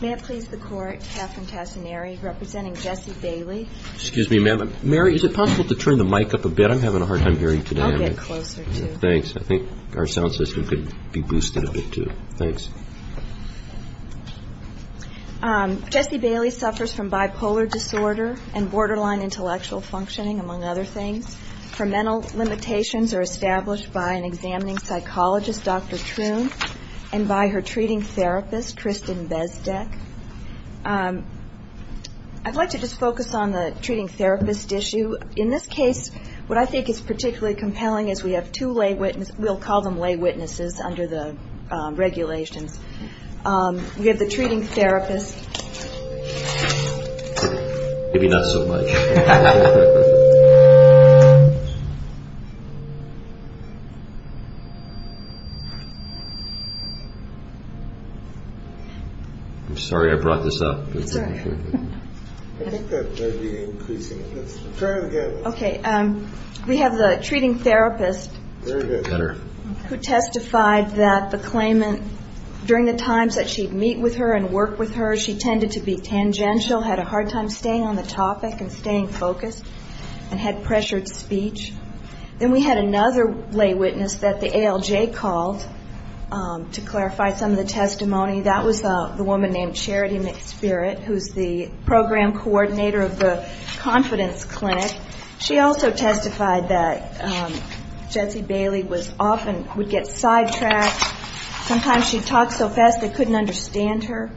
May I please the court, Catherine Tassinari representing Jesse Bailey. Excuse me, ma'am. Mary, is it possible to turn the mic up a bit? I'm having a hard time hearing today. I'll get closer to you. Thanks. I think our sound system could be boosted a bit, too. Thanks. Jesse Bailey suffers from bipolar disorder and borderline intellectual functioning, among other things. Her mental limitations are established by an examining psychologist, Dr. Troon, and by her treating therapist, Kristen Bezdek. I'd like to just focus on the treating therapist issue. In this case, what I think is particularly compelling is we have two lay witnesses. We'll call them lay witnesses under the regulations. We have the treating therapist. Maybe not so much. I'm sorry I brought this up. I think that might be increasing. Try it again. Okay. We have the treating therapist who testified that the claimant, during the times that she'd meet with her and work with her, she tended to be tangential, had a hard time staying on the topic and staying focused, and had pressured speech. Then we had another lay witness that the ALJ called to clarify some of the testimony. That was the woman named Charity McSpirit, who's the program coordinator of the Confidence Clinic. She also testified that Jesse Bailey often would get sidetracked. Sometimes she'd talk so fast they couldn't understand her.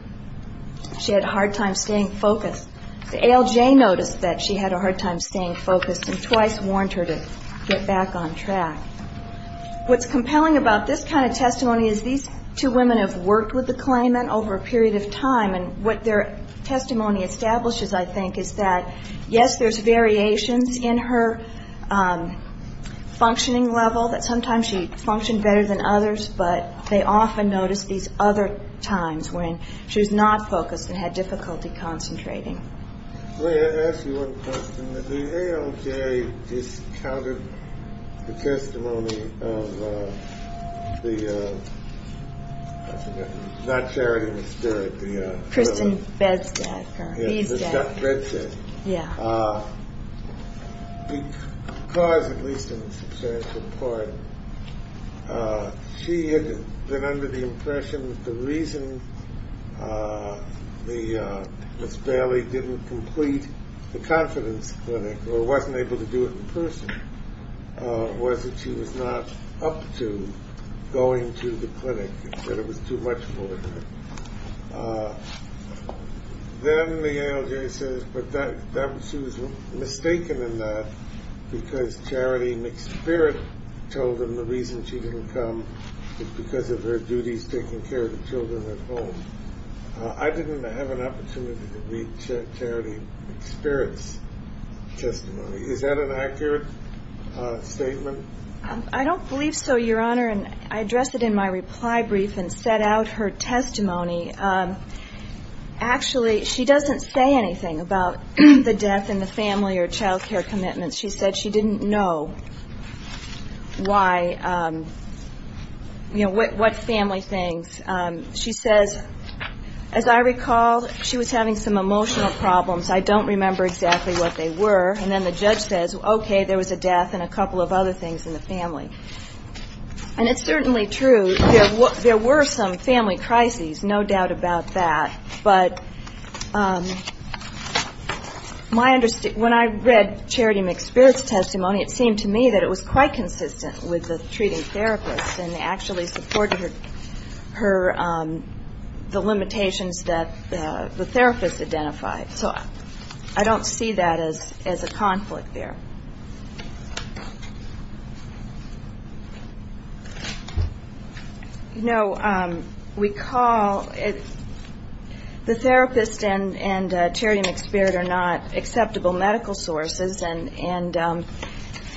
She had a hard time staying focused. The ALJ noticed that she had a hard time staying focused and twice warned her to get back on track. What's compelling about this kind of testimony is these two women have worked with the claimant over a period of time, and what their testimony establishes, I think, is that, yes, there's variations in her functioning level, that sometimes she functioned better than others, but they often noticed these other times when she was not focused and had difficulty concentrating. May I ask you one question? The ALJ discounted the testimony of the, I forget the name, not Charity McSpirit. Kristen Bedstack. Yeah. Because, at least in a substantial part, she had been under the impression that the reason Ms. Bailey didn't complete the Confidence Clinic or wasn't able to do it in person was that she was not up to going to the clinic, that it was too much for her. Then the ALJ says that she was mistaken in that because Charity McSpirit told them the reason she didn't come was because of her duties taking care of the children at home. I didn't have an opportunity to read Charity McSpirit's testimony. Is that an accurate statement? I don't believe so, Your Honor, and I addressed it in my reply brief and set out her testimony. Actually, she doesn't say anything about the death and the family or child care commitments. She said she didn't know why, you know, what family things. She says, as I recall, she was having some emotional problems. I don't remember exactly what they were. And then the judge says, okay, there was a death and a couple of other things in the family. And it's certainly true, there were some family crises, no doubt about that. But when I read Charity McSpirit's testimony, it seemed to me that it was quite consistent with the treating therapist and actually supported the limitations that the therapist identified. So I don't see that as a conflict there. You know, we call the therapist and Charity McSpirit are not acceptable medical sources, and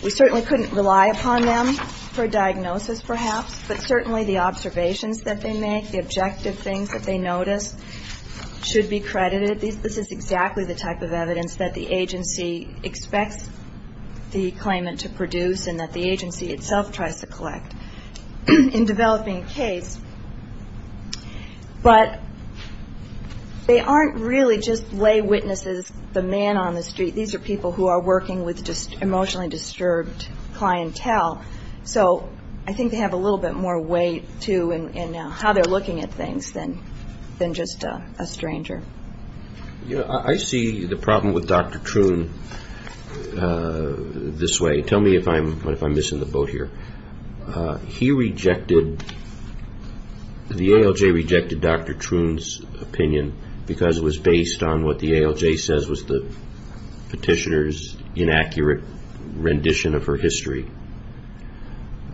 we certainly couldn't rely upon them for diagnosis, perhaps, but certainly the observations that they make, the objective things that they notice, should be credited. This is exactly the type of evidence that the agency expects the claimant to produce and that the agency itself tries to collect in developing a case. But they aren't really just lay witnesses, the man on the street. These are people who are working with emotionally disturbed clientele. So I think they have a little bit more weight, too, in how they're looking at things than just a stranger. I see the problem with Dr. Troon this way. Tell me if I'm missing the boat here. He rejected, the ALJ rejected Dr. Troon's opinion because it was based on what the ALJ says was the petitioner's inaccurate rendition of her history,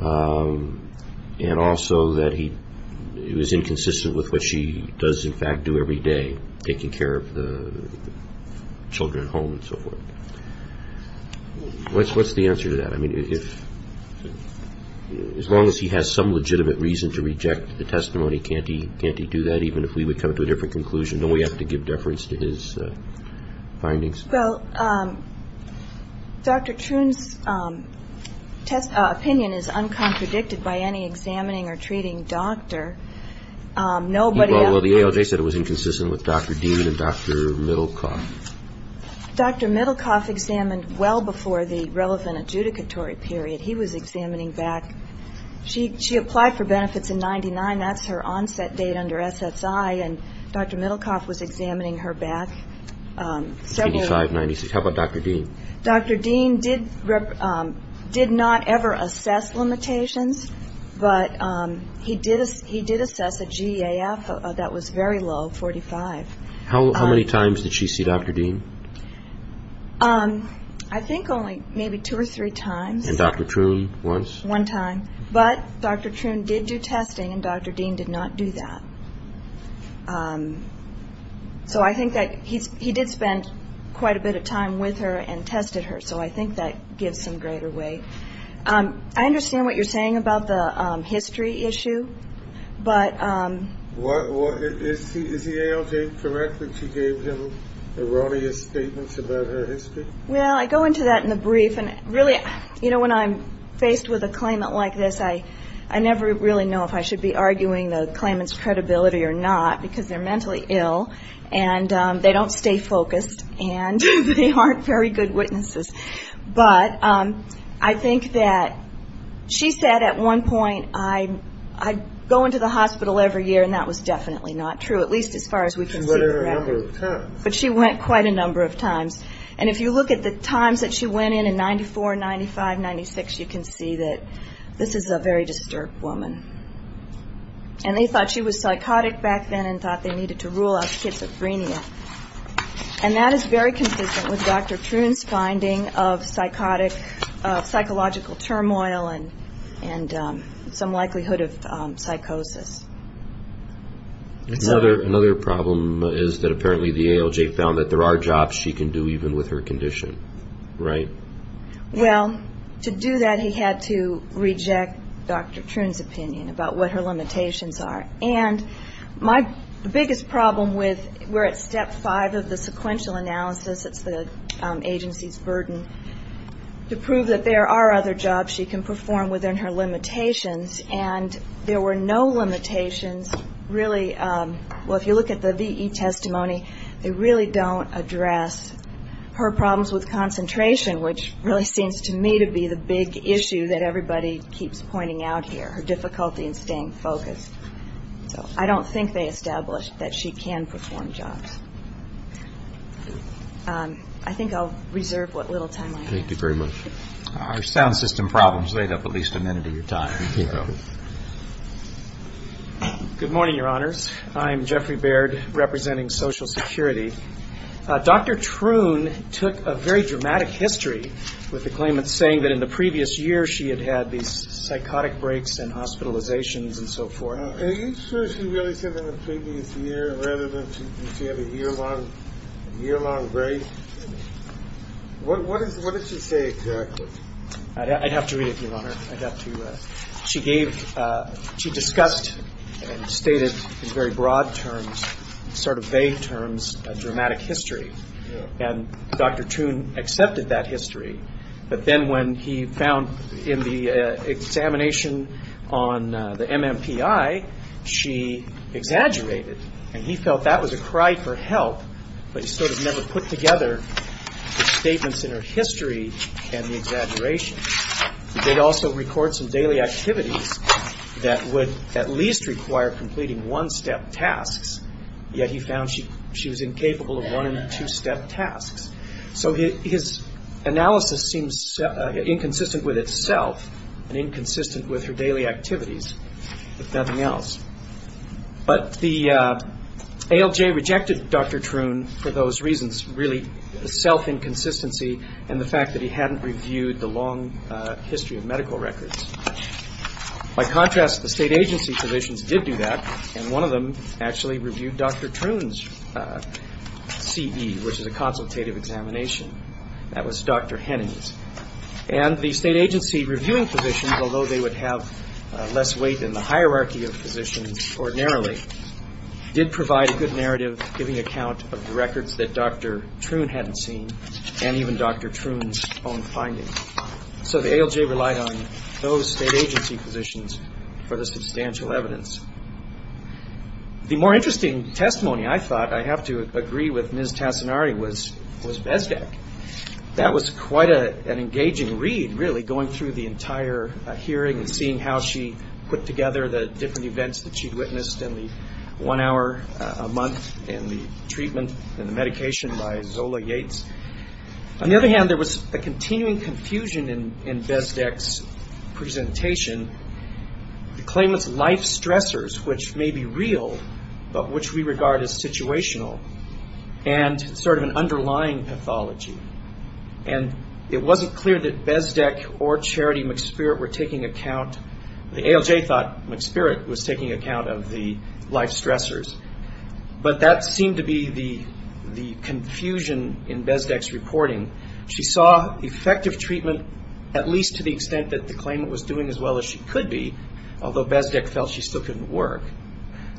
and also that it was inconsistent with what she does, in fact, do every day, taking care of the children at home and so forth. What's the answer to that? As long as he has some legitimate reason to reject the testimony, can't he do that? Even if we would come to a different conclusion, don't we have to give deference to his findings? Well, Dr. Troon's opinion is uncontradicted by any examining or treating doctor. Well, the ALJ said it was inconsistent with Dr. Dean and Dr. Middlecoff. Dr. Middlecoff examined well before the relevant adjudicatory period. He was examining back. She applied for benefits in 1999. That's her onset date under SSI, and Dr. Middlecoff was examining her back. How about Dr. Dean? Dr. Dean did not ever assess limitations, but he did assess a GAF that was very low, 45. How many times did she see Dr. Dean? I think only maybe two or three times. And Dr. Troon once? One time. But Dr. Troon did do testing, and Dr. Dean did not do that. So I think that he did spend quite a bit of time with her and tested her, so I think that gives some greater weight. I understand what you're saying about the history issue, but ‑‑ Is the ALJ correct that she gave him erroneous statements about her history? Well, I go into that in the brief, and really, you know, when I'm faced with a claimant like this, I never really know if I should be arguing the claimant's credibility or not, because they're mentally ill, and they don't stay focused, and they aren't very good witnesses. But I think that she said at one point, I go into the hospital every year, and that was definitely not true, at least as far as we can see. She went in a number of times. And if you look at the times that she went in, in 94, 95, 96, you can see that this is a very disturbed woman. And they thought she was psychotic back then and thought they needed to rule out schizophrenia. And that is very consistent with Dr. Troon's finding of psychotic, psychological turmoil and some likelihood of psychosis. Another problem is that apparently the ALJ found that there are jobs she can do even with her condition, right? Well, to do that, he had to reject Dr. Troon's opinion about what her limitations are. And my biggest problem with where it's step five of the sequential analysis, it's the agency's burden, to prove that there are other jobs she can perform within her limitations, and there were no limitations really, well, if you look at the VE testimony, they really don't address her problems with concentration, which really seems to me to be the big issue that everybody keeps pointing out here, her difficulty in staying focused. So I don't think they established that she can perform jobs. I think I'll reserve what little time I have. Thank you very much. Our sound system problems laid up at least a minute of your time. Good morning, Your Honors. I'm Jeffrey Baird representing Social Security. Dr. Troon took a very dramatic history with the claimant saying that in the previous year she had had these psychotic breaks and hospitalizations and so forth. Are you sure she really said that in the previous year rather than she had a year-long break? What did she say exactly? I'd have to read it, Your Honor. I'd have to. She discussed and stated in very broad terms, sort of vague terms, a dramatic history, and Dr. Troon accepted that history, but then when he found in the examination on the MMPI, she exaggerated, and he felt that was a cry for help, but he sort of never put together the statements in her history and the exaggeration. He did also record some daily activities that would at least require completing one-step tasks, yet he found she was incapable of one- and two-step tasks. So his analysis seems inconsistent with itself and inconsistent with her daily activities, if nothing else. But the ALJ rejected Dr. Troon for those reasons, really self-inconsistency and the fact that he hadn't reviewed the long history of medical records. By contrast, the state agency positions did do that, and one of them actually reviewed Dr. Troon's CE, which is a consultative examination. That was Dr. Henning's. And the state agency reviewing positions, although they would have less weight in the hierarchy of positions ordinarily, did provide a good narrative giving account of the records that Dr. Troon hadn't seen and even Dr. Troon's own findings. So the ALJ relied on those state agency positions for the substantial evidence. The more interesting testimony, I thought, I have to agree with Ms. Tassinari, was Bezdak. That was quite an engaging read, really, going through the entire hearing and seeing how she put together the different events that she'd witnessed in the one hour a month and the treatment and the medication by Zola Yates. On the other hand, there was a continuing confusion in Bezdak's presentation. The claim was life stressors, which may be real, but which we regard as situational, and sort of an underlying pathology. And it wasn't clear that Bezdak or Charity McSpirit were taking account. The ALJ thought McSpirit was taking account of the life stressors, but that seemed to be the confusion in Bezdak's reporting. She saw effective treatment, at least to the extent that the claimant was doing as well as she could be, although Bezdak felt she still couldn't work.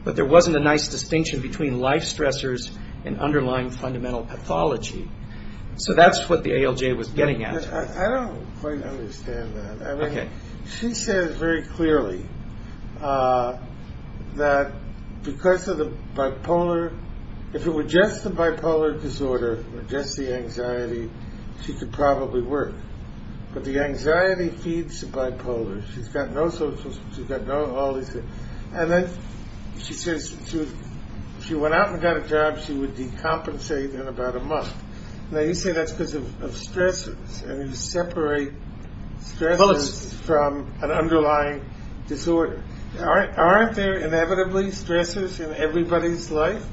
But there wasn't a nice distinction between life stressors and underlying fundamental pathology. So that's what the ALJ was getting at. I don't quite understand that. She says very clearly that because of the bipolar, if it were just the bipolar disorder or just the anxiety, she could probably work. But the anxiety feeds the bipolar. She's got no social, she's got all these things. And then she says if she went out and got a job, she would decompensate in about a month. Now you say that's because of stressors. And you separate stressors from an underlying disorder. Aren't there inevitably stressors in everybody's life?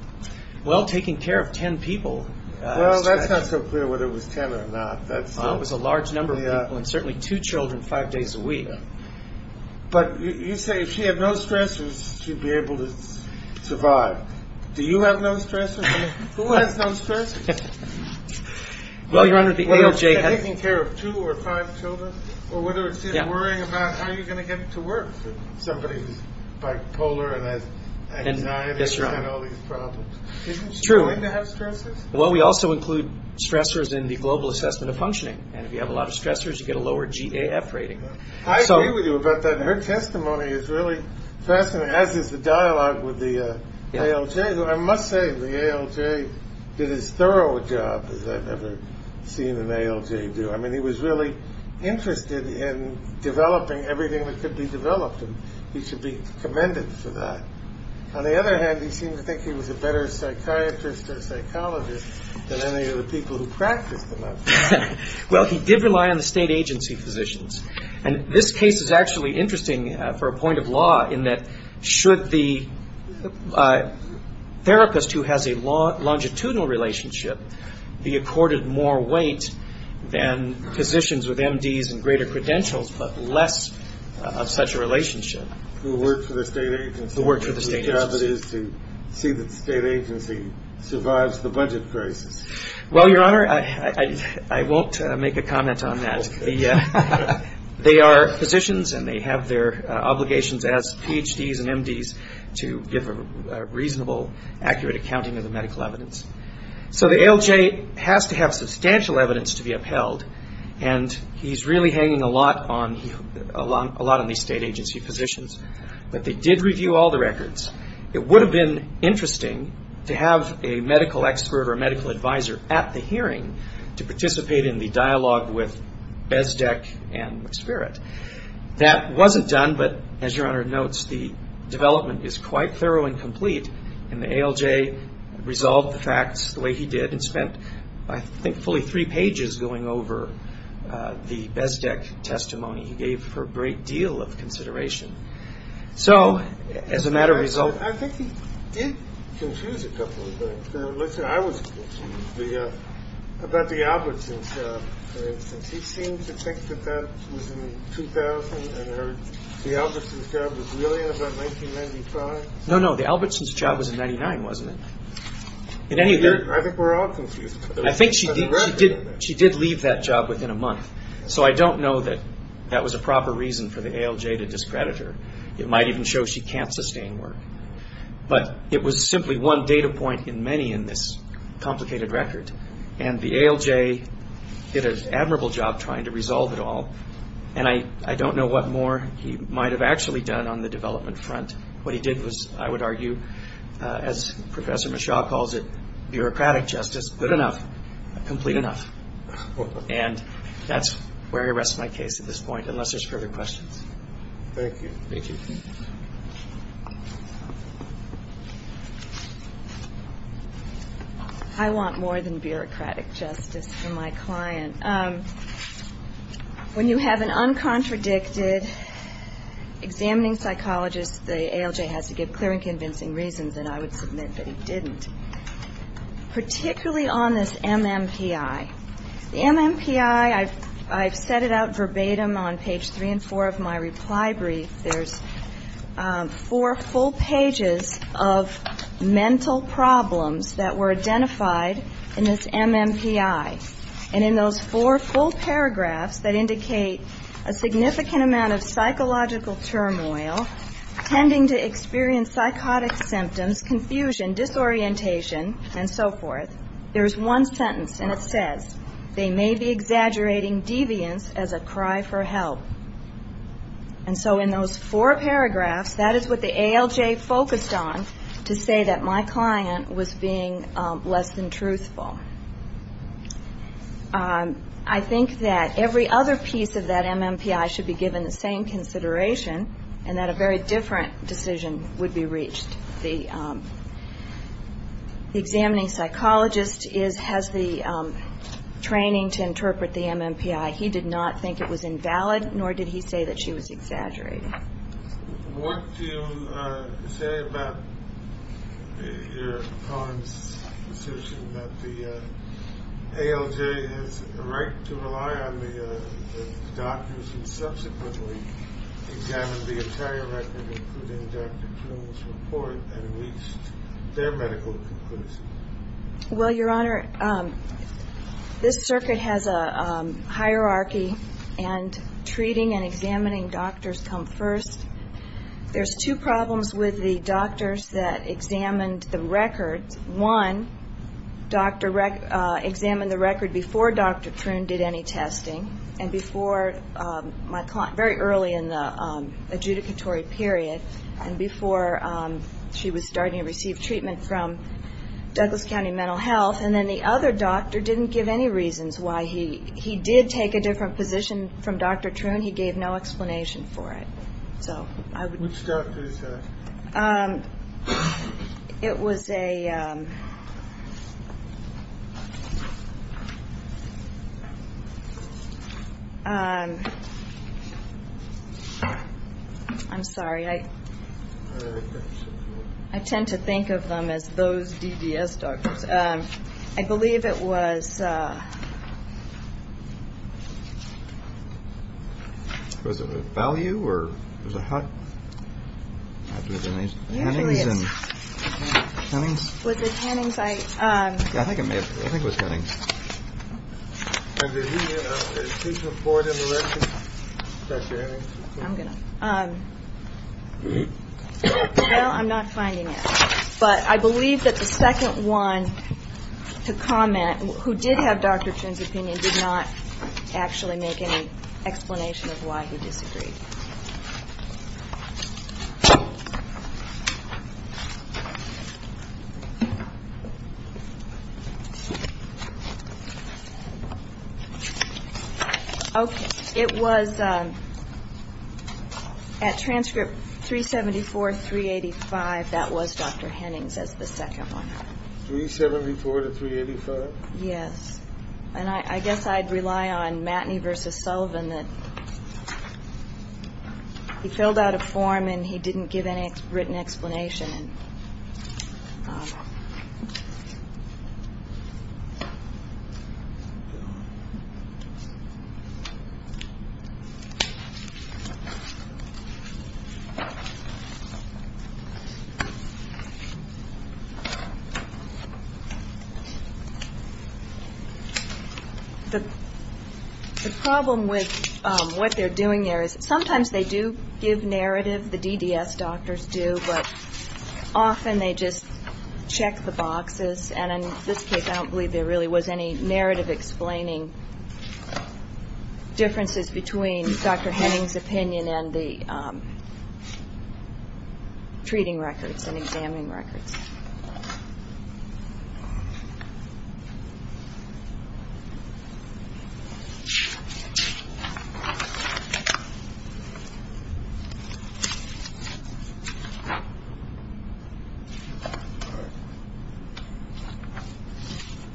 Well, taking care of ten people. Well, that's not so clear whether it was ten or not. It was a large number of people and certainly two children five days a week. But you say if she had no stressors, she'd be able to survive. Do you have no stressors? Who has no stressors? Well, Your Honor, the ALJ has- Whether it's taking care of two or five children or whether it's just worrying about how you're going to get it to work for somebody who's bipolar and has anxiety and all these problems. Isn't she going to have stressors? Well, we also include stressors in the Global Assessment of Functioning. And if you have a lot of stressors, you get a lower GAF rating. I agree with you about that. Her testimony is really fascinating, as is the dialogue with the ALJ. I must say the ALJ did as thorough a job as I've ever seen an ALJ do. I mean, he was really interested in developing everything that could be developed, and he should be commended for that. On the other hand, he seemed to think he was a better psychiatrist or psychologist than any of the people who practiced him. Well, he did rely on the state agency physicians. And this case is actually interesting for a point of law in that should the therapist who has a longitudinal relationship be accorded more weight than physicians with MDs and greater credentials but less of such a relationship? Who work for the state agency. Who work for the state agency. Whose job it is to see that the state agency survives the budget crisis. Well, Your Honor, I won't make a comment on that. They are physicians, and they have their obligations as PhDs and MDs to give a reasonable, accurate accounting of the medical evidence. So the ALJ has to have substantial evidence to be upheld, and he's really hanging a lot on these state agency physicians. But they did review all the records. It would have been interesting to have a medical expert or a medical advisor at the hearing to participate in the dialogue with Bezdek and Spirit. That wasn't done, but as Your Honor notes, the development is quite thorough and complete. And the ALJ resolved the facts the way he did and spent I think fully three pages going over the Bezdek testimony. He gave her a great deal of consideration. So as a matter of result. I think he did confuse a couple of things. Listen, I was confused about the Albertson's job. He seemed to think that that was in 2000, and the Albertson's job was really in about 1995. No, no, the Albertson's job was in 1999, wasn't it? I think we're all confused. I think she did leave that job within a month. So I don't know that that was a proper reason for the ALJ to discredit her. It might even show she can't sustain work. But it was simply one data point in many in this complicated record. And the ALJ did an admirable job trying to resolve it all. And I don't know what more he might have actually done on the development front. What he did was, I would argue, as Professor Mishaw calls it, bureaucratic justice. Good enough. Complete enough. And that's where I rest my case at this point, unless there's further questions. Thank you. Thank you. I want more than bureaucratic justice for my client. When you have an uncontradicted examining psychologist, the ALJ has to give clear and convincing reasons, and I would submit that he didn't. Particularly on this MMPI. The MMPI, I've set it out verbatim on page three and four of my reply brief. There's four full pages of mental problems that were identified in this MMPI. And in those four full paragraphs that indicate a significant amount of psychological turmoil, tending to experience psychotic symptoms, confusion, disorientation, and so forth, there's one sentence, and it says, they may be exaggerating deviance as a cry for help. And so in those four paragraphs, that is what the ALJ focused on, to say that my client was being less than truthful. I think that every other piece of that MMPI should be given the same consideration, and that a very different decision would be reached. The examining psychologist has the training to interpret the MMPI. He did not think it was invalid, nor did he say that she was exaggerating. What do you say about your client's decision that the ALJ has a right to rely on the doctors who subsequently examined the entire record, including Dr. Troon's report, and reached their medical conclusions? Well, Your Honor, this circuit has a hierarchy, and treating and examining doctors come first. There's two problems with the doctors that examined the record. One, examined the record before Dr. Troon did any testing, and before my client, very early in the adjudicatory period, and before she was starting to receive treatment from Douglas County Mental Health. And then the other doctor didn't give any reasons why he did take a different position from Dr. Troon. He gave no explanation for it. Which doctor is that? It was a... I'm sorry. I tend to think of them as those DDS doctors. I believe it was... Was it Value or was it Hutt? I believe it was Hennings. Was it Hennings? I think it was Hennings. Did he report in the record Dr. Hennings? I'm going to... Well, I'm not finding it. But I believe that the second one to comment, who did have Dr. Troon's opinion, did not actually make any explanation of why he disagreed. Okay. It was at transcript 374, 385. That was Dr. Hennings as the second one. 374 to 385? Yes. And I guess I'd rely on Matney v. Sullivan that he filled out a form and he didn't give any written explanation. The problem with what they're doing there is sometimes they do give narrative, the DDS doctors do, but often they just check the boxes. And in this case, I don't believe there really was any narrative explaining differences between Dr. Hennings' opinion and the treating records and examining records. All right.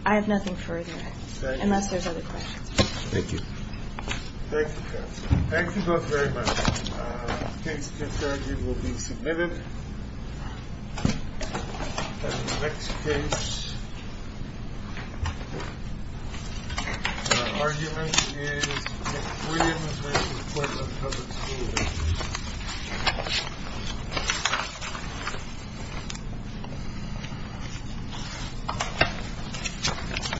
I have nothing further, unless there's other questions. Thank you. Thank you, counsel. Thank you both very much. The case to adjourn will be submitted. Thank you. Thank you. The case. The argument is that the freedom of expression is a point of no return.